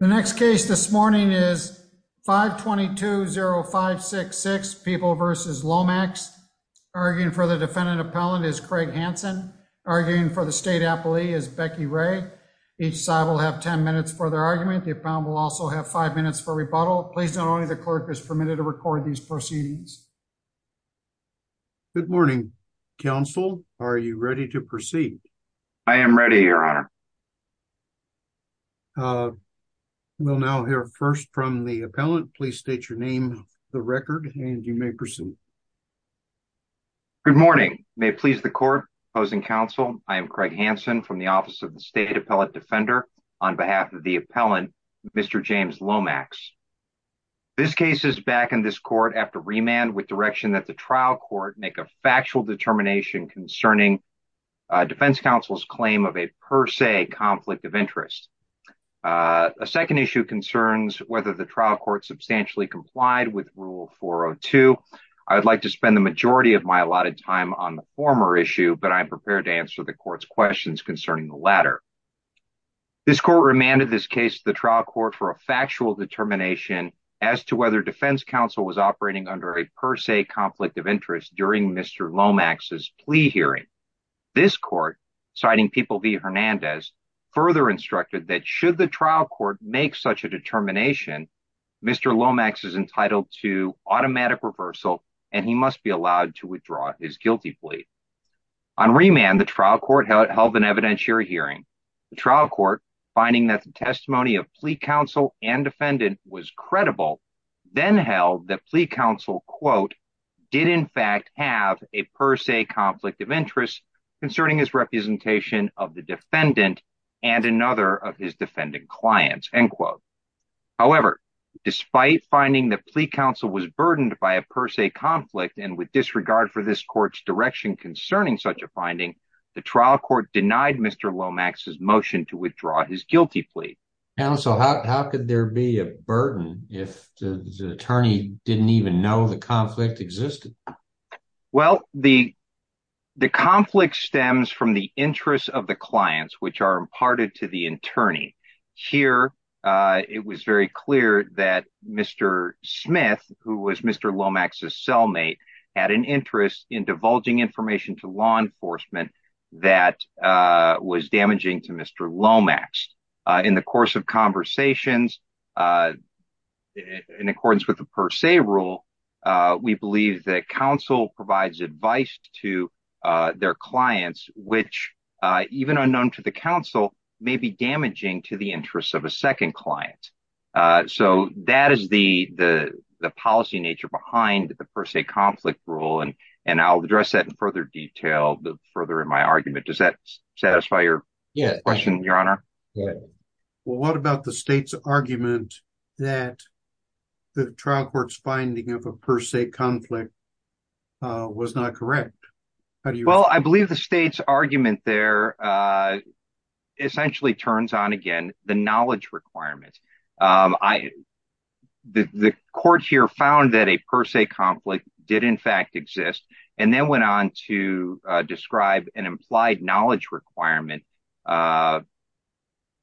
The next case this morning is 522-0566, People v. Lomax. Arguing for the defendant appellant is Craig Hansen. Arguing for the state appellee is Becky Ray. Each side will have 10 minutes for their argument. The appellant will also have five minutes for rebuttal. Please note only the clerk is permitted to record these proceedings. Good morning, counsel. Are you ready to proceed? I am ready, your honor. We'll now hear first from the appellant. Please state your name, the record, and you may proceed. Good morning. May it please the court, opposing counsel, I am Craig Hansen from the Office of the State Appellate Defender. On behalf of the appellant, Mr. James Lomax. This case is back in this court after remand with direction that the trial court make a factual determination concerning defense counsel's claim of a per se conflict of interest. A second issue concerns whether the trial court substantially complied with Rule 402. I would like to spend the majority of my allotted time on the former issue, but I am prepared to answer the court's questions concerning the latter. This court remanded this case to the trial court for a factual determination as to whether defense counsel was operating under a per se conflict of interest during Lomax's plea hearing. This court, citing People v. Hernandez, further instructed that should the trial court make such a determination, Mr. Lomax is entitled to automatic reversal and he must be allowed to withdraw his guilty plea. On remand, the trial court held an evidentiary hearing. The trial court, finding that the testimony of plea counsel and defendant was credible, then held that plea counsel, quote, did in fact have a per se conflict of interest concerning his representation of the defendant and another of his defendant clients, end quote. However, despite finding that plea counsel was burdened by a per se conflict and with disregard for this court's direction concerning such a finding, the trial court denied Mr. Lomax's motion to withdraw his guilty plea. Counsel, how could there be a burden if the attorney didn't even know the conflict existed? Well, the conflict stems from the interests of the clients which are imparted to the attorney. Here, it was very clear that Mr. Smith, who was Mr. Lomax's cellmate, had an interest in divulging information to law enforcement that was damaging to Mr. Lomax. In the course of conversations, in accordance with the per se rule, we believe that counsel provides advice to their clients which, even unknown to the counsel, may be damaging to the interests of a second client. So, that is the policy nature behind the per se conflict rule and I'll address that in further detail further in my argument. Does that satisfy your question, your honor? Well, what about the state's argument that the trial court's finding of a per se conflict was not correct? Well, I believe the state's argument there essentially turns on, again, the knowledge requirement. The court here a per se conflict did, in fact, exist and then went on to describe an implied knowledge requirement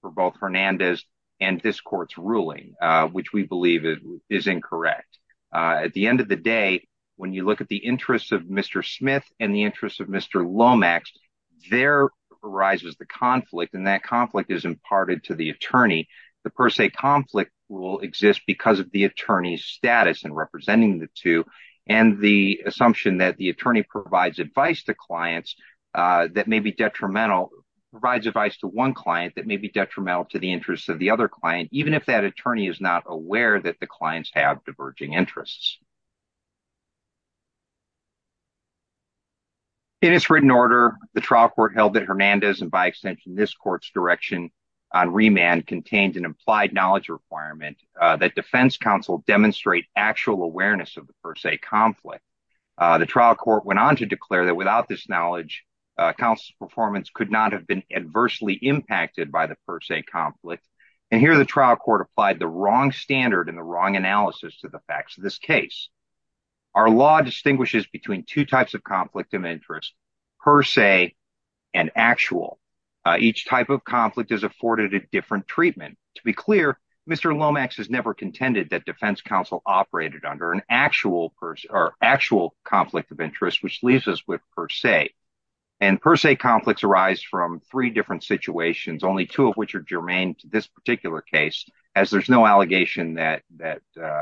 for both Hernandez and this court's ruling, which we believe is incorrect. At the end of the day, when you look at the interests of Mr. Smith and the interests of Mr. Lomax, there arises the conflict and that conflict is imparted to the attorney. The per se conflict will exist because of the attorney's status in representing the two and the assumption that the attorney provides advice to clients that may be detrimental, provides advice to one client that may be detrimental to the interests of the other client, even if that attorney is not aware that the clients have diverging interests. In its written order, the trial court held that Hernandez and, by extension, this court's direction on remand contained an implied knowledge requirement that defense counsel demonstrate actual awareness of the per se conflict. The trial court went on to declare that without this knowledge, counsel's performance could not have been adversely impacted by the per se conflict, and here the trial court applied the wrong standard and the wrong analysis to the facts of this case. Our law distinguishes between two types of conflict of interest, per se and actual. Each type of conflict is afforded a different treatment. To be clear, Mr. Lomax has never contended that defense counsel operated under an actual conflict of interest, which leaves us with per se, and per se conflicts arise from three different situations, only two of which are germane to this particular case, as there's no allegation that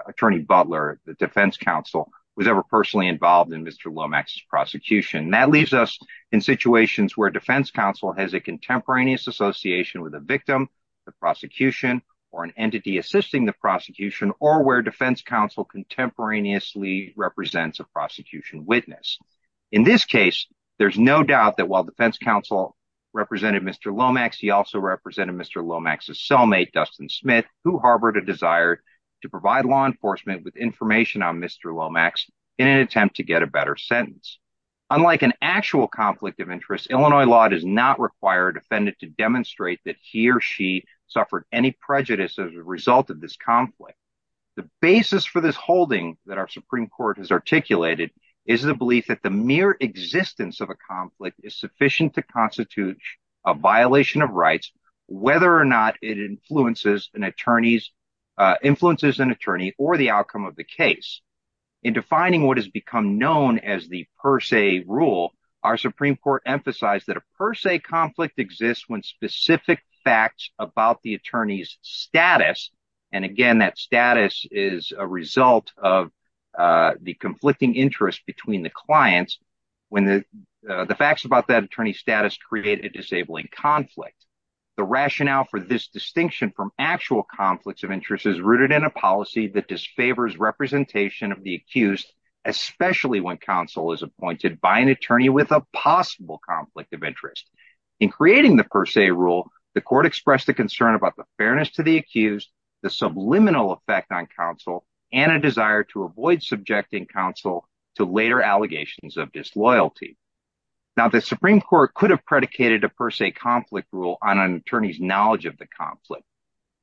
attorney Butler, the defense counsel, was ever personally involved in Mr. Lomax's prosecution. That leaves us in situations where defense counsel has a contemporaneous association with a victim, the prosecution, or an entity assisting the prosecution, or where defense counsel contemporaneously represents a prosecution witness. In this case, there's no doubt that while defense counsel represented Mr. Lomax, he also represented Mr. Lomax's cellmate, Dustin Smith, who harbored a desire to provide law enforcement with information on Mr. Lomax in an attempt to get a better sentence. Unlike an actual conflict of interest, Illinois law does not require a defendant to suffer any prejudice as a result of this conflict. The basis for this holding that our Supreme Court has articulated is the belief that the mere existence of a conflict is sufficient to constitute a violation of rights, whether or not it influences an attorney or the outcome of the case. In defining what has become known as the per se rule, our Supreme Court emphasized that per se conflict exists when specific facts about the attorney's status, and again that status is a result of the conflicting interest between the clients, when the facts about that attorney's status create a disabling conflict. The rationale for this distinction from actual conflicts of interest is rooted in a policy that disfavors representation of the accused, especially when counsel is appointed by an attorney with a possible conflict of interest. In creating the per se rule, the court expressed a concern about the fairness to the accused, the subliminal effect on counsel, and a desire to avoid subjecting counsel to later allegations of disloyalty. Now, the Supreme Court could have predicated a per se conflict rule on an attorney's knowledge of the conflict.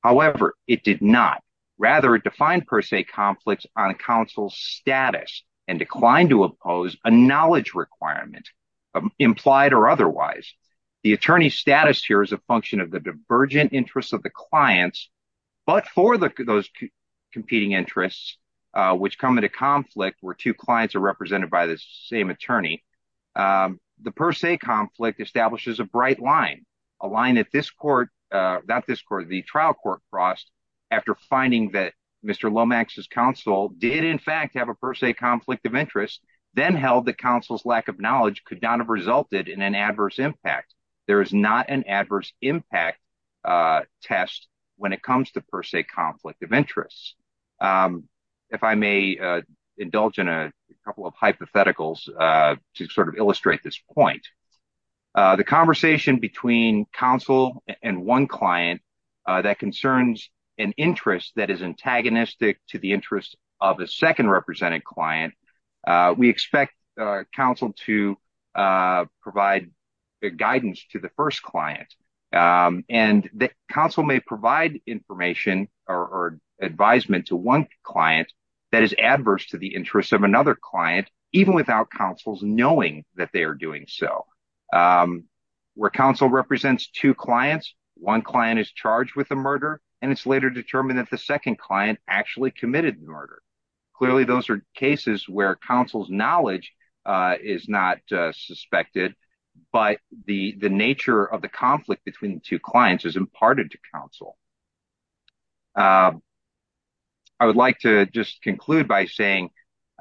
However, it did not. Rather, it defined per se conflicts on counsel's status and declined to oppose a knowledge requirement, implied or otherwise. The attorney's status here is a function of the divergent interests of the clients, but for those competing interests which come into conflict where two clients are represented by the same attorney, the per se conflict establishes a bright line, a line that this court, not this court, the trial court crossed after finding that Mr. Lomax's counsel did in fact have a per se conflict of interest, then held that counsel's lack of knowledge could not have resulted in an adverse impact. There is not an adverse impact test when it comes to per se conflict of interests. If I may indulge in a couple of hypotheticals to sort of illustrate this point, the conversation between counsel and one client that concerns an interest that is antagonistic to the interest of a second represented client, we expect counsel to provide guidance to the first client, and the counsel may provide information or advisement to one client that is adverse to the interest of another client, even without counsel's knowing that they are doing so. Where counsel represents two clients, one client is charged with a murder, and it's later determined that the second client actually committed the murder. Clearly those are cases where counsel's knowledge is not suspected, but the nature of the conflict between the two clients is imparted to counsel. I would like to just conclude by saying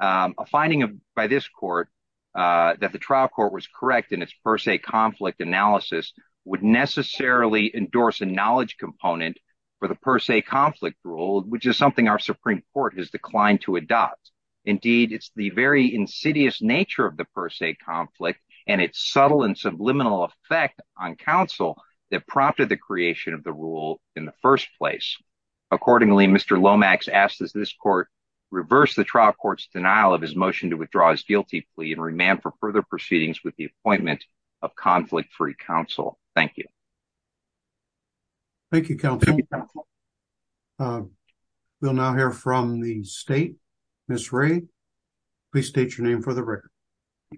a finding by this court that the trial court was correct in its per se conflict analysis would necessarily endorse a knowledge component for the per se conflict rule, which is something our Supreme Court has declined to adopt. Indeed, it's the very insidious nature of the per se conflict and its subtle and subliminal effect on counsel that prompted the creation of the rule in the first place. Accordingly, Mr. Lomax asks that this court reverse the trial court's denial of his motion to withdraw his guilty plea and remand for further proceedings with the appointment of conflict-free counsel. Thank you. Thank you, counsel. We'll now hear from the state. Ms. Ray, please state your name for the record.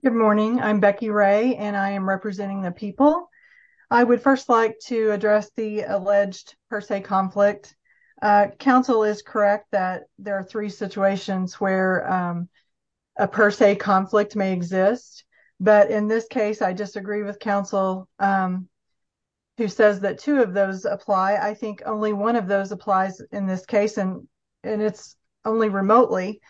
Good morning. I'm Becky Ray, and I am representing the people. I would first like to address the alleged per se conflict. Counsel is correct that there are three situations where a per se conflict may exist, but in this case, I disagree with counsel who says that two of those apply. I think only one of those applies in this case, and it's only remotely.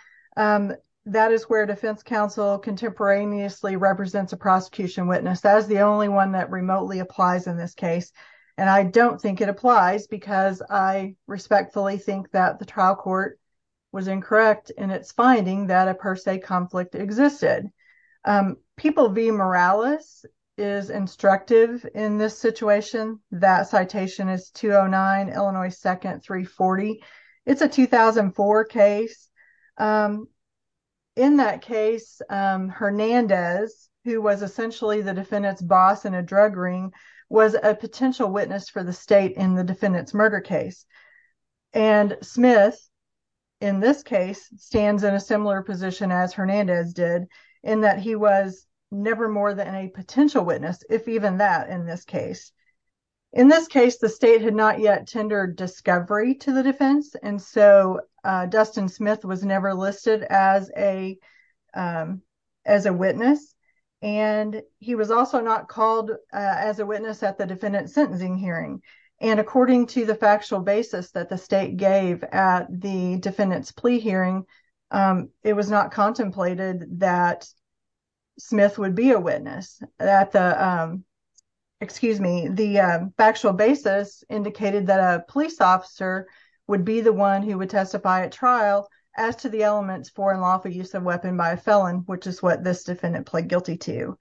That is where defense counsel contemporaneously represents a prosecution witness. That is the only one that remotely applies in this case, and I don't think it applies because I respectfully think that the trial court was incorrect in its finding that a per se conflict existed. People v. Morales is instructive in this situation. That citation is 209 Illinois 2nd 340. It's a 2004 case. In that case, Hernandez, who was essentially the defendant's boss in a drug ring, was a potential witness for the state in the defendant's murder case, and Smith, in this case, stands in a similar position as Hernandez did in that he was never more than a potential witness, if even that in this case. In this case, the state had not yet tendered discovery to the defense, and so Dustin Smith was never listed as a witness, and he was also not called as a witness at the defendant's sentencing hearing, and according to the factual basis that the state gave at the defendant's plea hearing, it was not contemplated that Smith would be a witness. The factual basis indicated that a police officer would be the one who would testify at trial as to the elements for and lawful use of weapon by a felon, which is this defendant pled guilty to.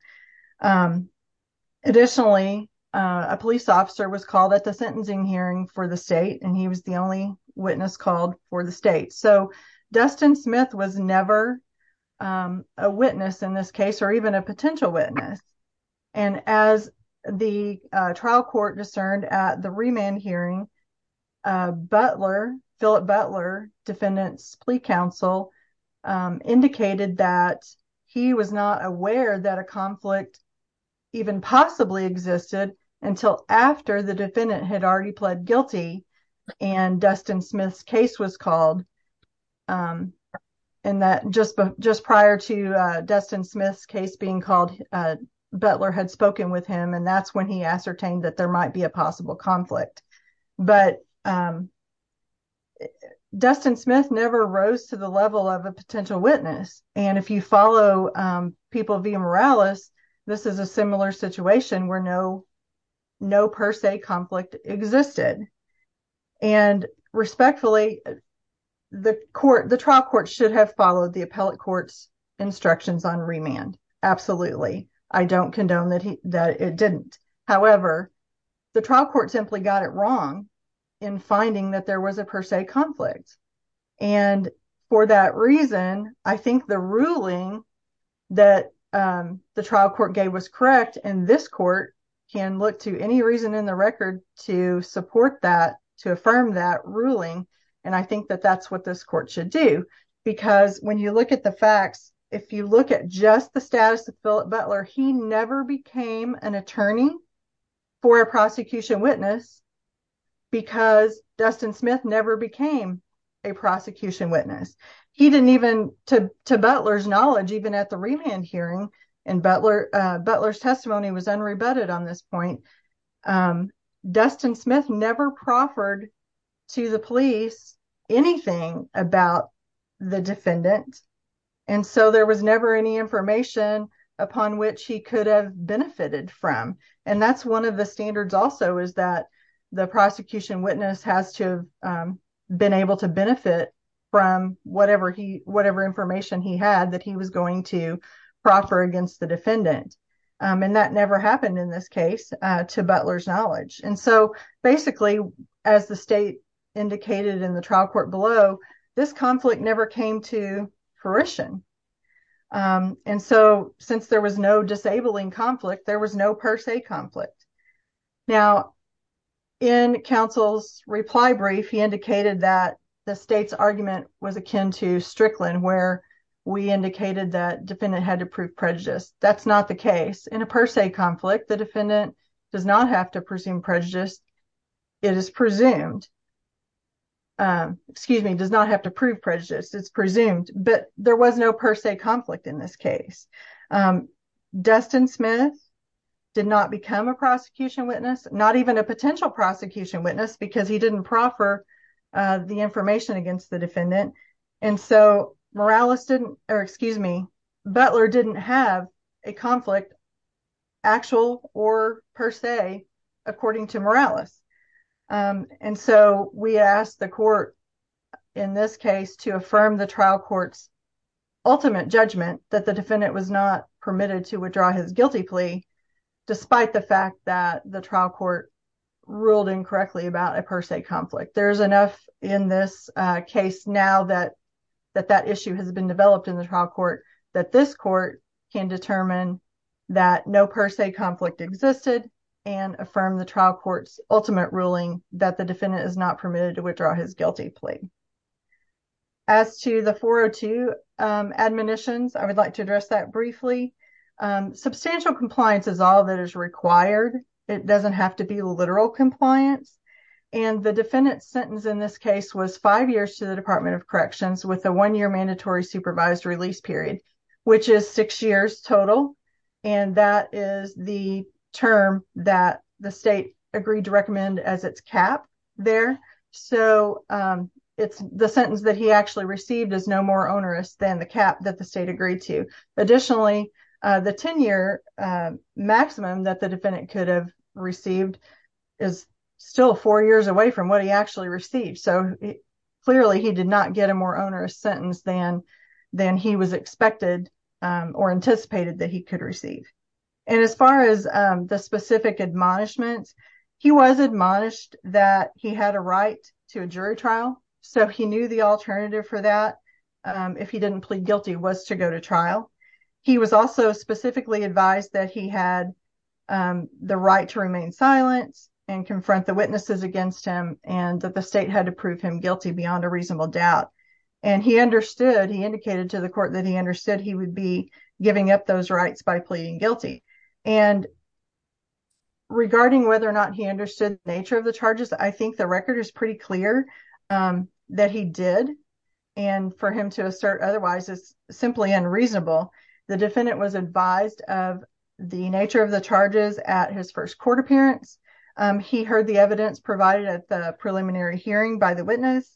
Additionally, a police officer was called at the sentencing hearing for the state, and he was the only witness called for the state. So, Dustin Smith was never a witness in this case, or even a potential witness, and as the trial court discerned at the remand hearing, Butler, Phillip Butler, defendant's plea counsel, indicated that he was not aware that a conflict even possibly existed until after the defendant had already pled guilty and Dustin Smith's case was called, and that just prior to Dustin Smith's case being called, Butler had spoken with him, and that's when he ascertained that there might be a possible conflict, but Dustin Smith never rose to the level of a potential witness, and if you follow people via Morales, this is a similar situation where no per se conflict existed, and respectfully, the trial court should have followed the appellate court's instructions on remand. Absolutely, I don't condone that it didn't. However, the trial court simply got it wrong in finding that there was a per se conflict, and for that reason, I think the ruling that the trial court gave was correct, and this court can look to any reason in the record to support that, to affirm that ruling, and I think that that's what this court should do, because when you look at the facts, if you look at just the prosecution witness, because Dustin Smith never became a prosecution witness, he didn't even, to Butler's knowledge, even at the remand hearing, and Butler's testimony was unrebutted on this point, Dustin Smith never proffered to the police anything about the defendant, and so there was is that the prosecution witness has to have been able to benefit from whatever information he had that he was going to proffer against the defendant, and that never happened in this case, to Butler's knowledge, and so basically, as the state indicated in the trial court below, this conflict never came to fruition, and so since there was no disabling conflict, there was no per se conflict. Now, in counsel's reply brief, he indicated that the state's argument was akin to Strickland, where we indicated that defendant had to prove prejudice, that's not the case. In a per se conflict, the defendant does not have to presume prejudice, it is presumed, excuse me, does not have to prove prejudice, it's presumed, but there was no per se conflict in this case. Dustin Smith did not become a prosecution witness, not even a potential prosecution witness, because he didn't proffer the information against the defendant, and so Morales didn't, or excuse me, Butler didn't have a conflict, actual or per se, according to Morales, and so we asked the court, in this case, to affirm the trial court's ultimate judgment that the defendant was not permitted to withdraw his guilty plea, despite the fact that the trial court ruled incorrectly about a per se conflict. There's enough in this case now that that issue has been developed in the trial court that this court can determine that no per se conflict existed, and affirm the trial court's not permitted to withdraw his guilty plea. As to the 402 admonitions, I would like to address that briefly. Substantial compliance is all that is required, it doesn't have to be literal compliance, and the defendant's sentence in this case was five years to the Department of Corrections, with a one-year mandatory supervised release period, which is six years total, and that is the term that the state agreed to recommend as its cap there, so the sentence that he actually received is no more onerous than the cap that the state agreed to. Additionally, the 10-year maximum that the defendant could have received is still four years away from what he actually received, so clearly he did not get a more onerous sentence than he was expected or anticipated that he could receive. And as far as the specific admonishments, he was admonished that he had a right to a jury trial, so he knew the alternative for that if he didn't plead guilty was to go to trial. He was also specifically advised that he had the right to remain silent and confront the witnesses against him, and that the state had to prove him guilty beyond a reasonable doubt, and he understood, he indicated to the court that he understood he would be giving up those rights by pleading guilty. And regarding whether or not he understood the nature of the charges, I think the record is pretty clear that he did, and for him to assert otherwise is simply unreasonable. The defendant was advised of the nature of the charges at his first court appearance. He heard the evidence provided at the preliminary hearing by the witness.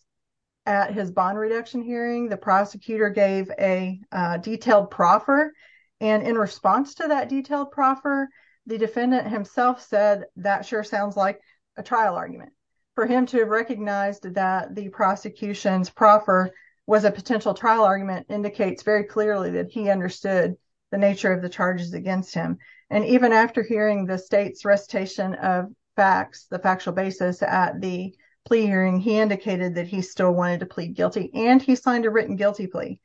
At his bond reduction hearing, the prosecutor gave a detailed proffer, and in response to that detailed proffer, the defendant himself said, that sure sounds like a trial argument. For him to recognize that the prosecution's proffer was a potential trial argument indicates very clearly that he understood the nature of the charges against him. And even after hearing the state's facts, the factual basis at the plea hearing, he indicated that he still wanted to plead guilty, and he signed a written guilty plea.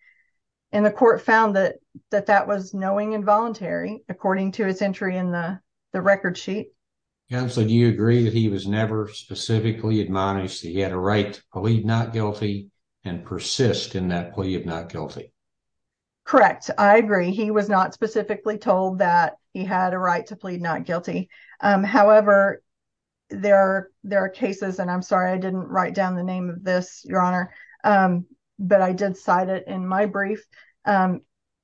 And the court found that that was knowing and voluntary, according to his entry in the record sheet. Counselor, do you agree that he was never specifically admonished that he had a right to plead not guilty and persist in that plea of not guilty? Correct. I agree. He was not specifically told that he had a right to plead not guilty. However, there are cases, and I'm sorry I didn't write down the name of this, Your Honor, but I did cite it in my brief.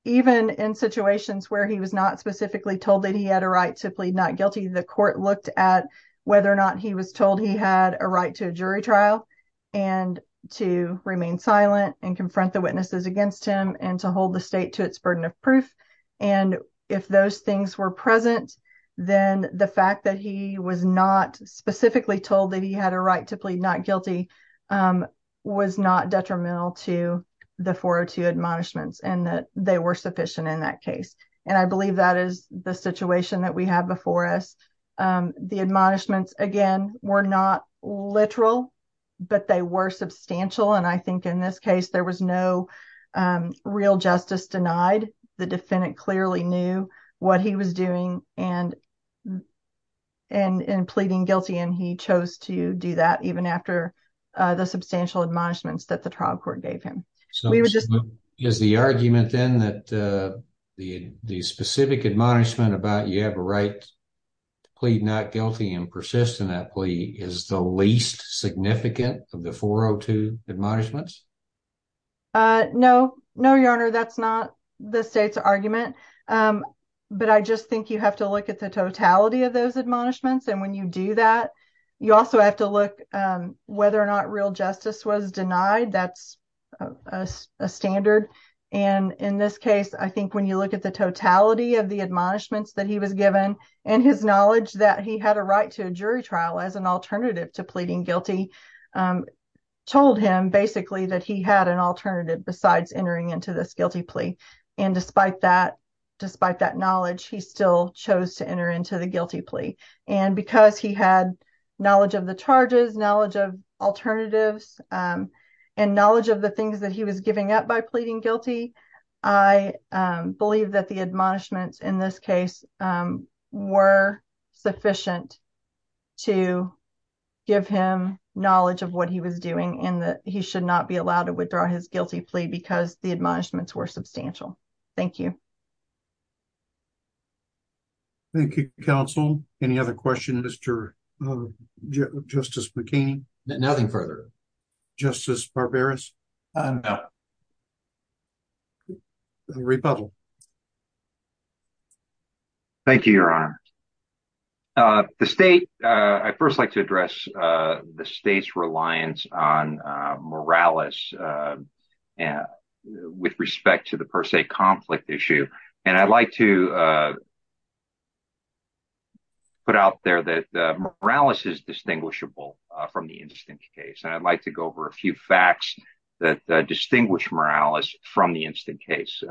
Even in situations where he was not specifically told that he had a right to plead not guilty, the court looked at whether or not he was told he had a right to a jury trial and to remain silent and confront the witnesses against him and to hold the state to its burden of proof. And if those things were present, then the fact that he was not specifically told that he had a right to plead not guilty was not detrimental to the 402 admonishments and that they were sufficient in that case. And I believe that is the situation that we have before us. The admonishments, again, were not literal, but they were substantial. And I think in this case, there was no real justice denied. The defendant clearly knew what he was doing and pleading guilty, and he chose to do that even after the substantial admonishments that the trial court gave him. Is the argument then that the specific admonishment about you have a right to plead not guilty and persist in that plea is the least significant of the 402 admonishments? No, no, your honor. That's not the state's argument. But I just think you have to look at the totality of those admonishments. And when you do that, you also have to look whether or not real justice was denied. That's a standard. And in this case, I think when you look at the totality of the admonishments that he was given and his knowledge that he had a right to a jury trial as an alternative to pleading guilty told him basically that he had an alternative besides entering into this guilty plea. And despite that, despite that knowledge, he still chose to enter into the guilty plea. And because he had knowledge of the charges, knowledge of alternatives, and knowledge of the things that he was giving up by pleading guilty, I believe that the admonishments in this case were sufficient to give him knowledge of what he was doing and that he should not be allowed to withdraw his guilty plea because the admonishments were substantial. Thank you. Thank you, counsel. Any other question, Mr. Justice McKean? Nothing further. Justice Barberis? No. Rebuttal. Thank you, Your Honor. The state, I'd first like to address the state's reliance on Morales with respect to the per se conflict issue. And I'd like to put out there that Morales is distinguishable from the instant case. And I'd like to go over a few facts that distinguish Morales from the instant case.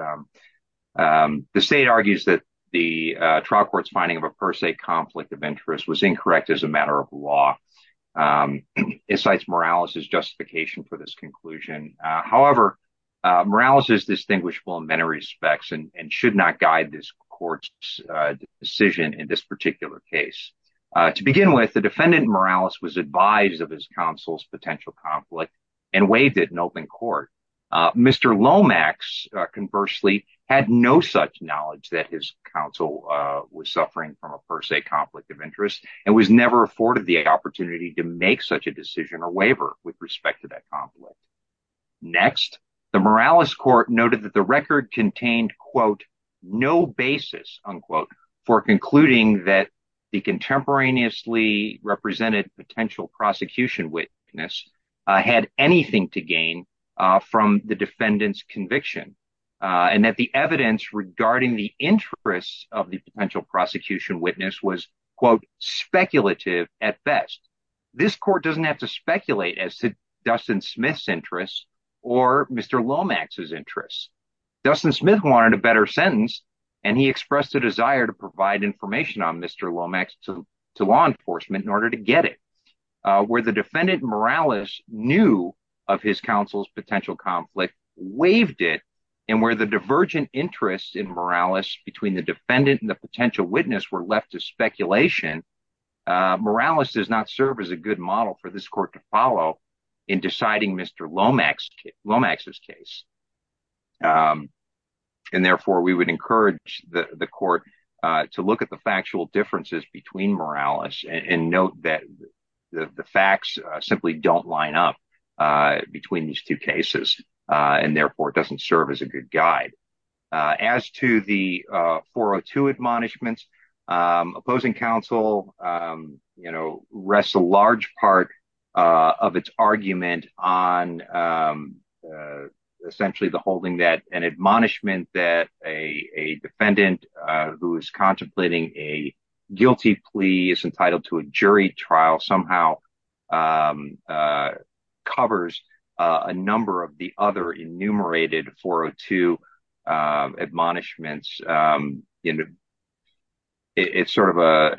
The state argues that the trial court's finding of a per se conflict of interest was incorrect as a matter of law. It cites Morales as justification for this conclusion. However, Morales is distinguishable in many respects and should not guide this court's decision in this particular case. To begin with, the defendant Morales was advised of his counsel's potential conflict and waived it in open court. Mr. Lomax conversely had no such knowledge that his counsel was suffering from a per se conflict of interest and was never afforded the opportunity to make such a decision or waiver with respect to that conflict. Next, the Morales court noted that record contained, quote, no basis, unquote, for concluding that the contemporaneously represented potential prosecution witness had anything to gain from the defendant's conviction. And that the evidence regarding the interests of the potential prosecution witness was, quote, speculative at best. This court doesn't have to speculate as to Dustin Smith's interests or Mr. Lomax's interests. Dustin Smith wanted a better sentence and he expressed a desire to provide information on Mr. Lomax to law enforcement in order to get it. Where the defendant Morales knew of his counsel's potential conflict, waived it, and where the divergent interests in Morales between the defendant and the potential witness were left to speculation, Morales does not serve as a good model for this court to follow in deciding Mr. Lomax's case. And therefore we would encourage the court to look at the factual differences between Morales and note that the facts simply don't line up between these two cases and therefore it doesn't serve as a good The court has a large part of its argument on essentially the holding that an admonishment that a defendant who is contemplating a guilty plea is entitled to a jury trial somehow covers a number of the other enumerated 402 admonishments. It's sort of a,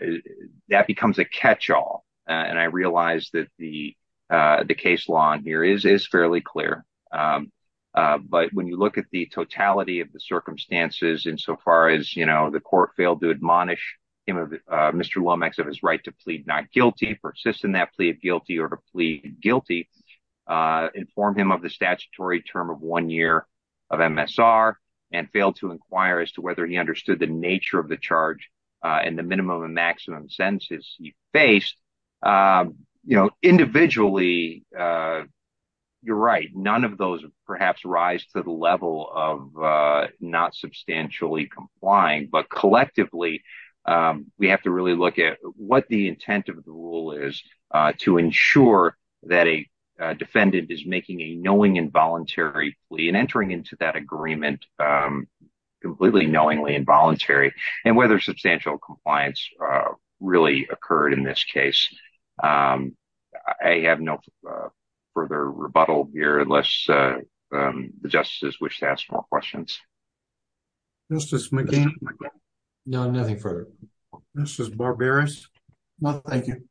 that becomes a catch-all and I realize that the case law here is fairly clear. But when you look at the totality of the circumstances insofar as, you know, the court failed to admonish him of Mr. Lomax of his right to plead not guilty, persist in that guilty or to plead guilty, inform him of the statutory term of one year of MSR and failed to inquire as to whether he understood the nature of the charge and the minimum and maximum sentences he faced, you know, individually, you're right, none of those perhaps rise to the level of not substantially complying, but collectively we have to really look at what the intent of the rule is to ensure that a defendant is making a knowing involuntary plea and entering into that agreement completely knowingly involuntary and whether substantial compliance really occurred in this case. I have no further rebuttal here unless the justices wish to ask more questions. Justice McCain? No, nothing further. Justice Barberis? No, thank you.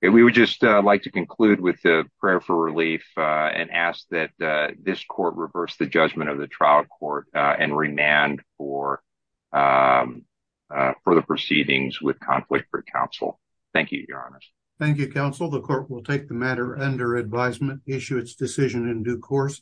We would just like to conclude with the prayer for relief and ask that this court reverse the judgment of the trial court and remand for the proceedings with conflict for counsel. Thank you, your honors. Thank you, counsel. The court will take the matter under advisement, issue its decision in due course.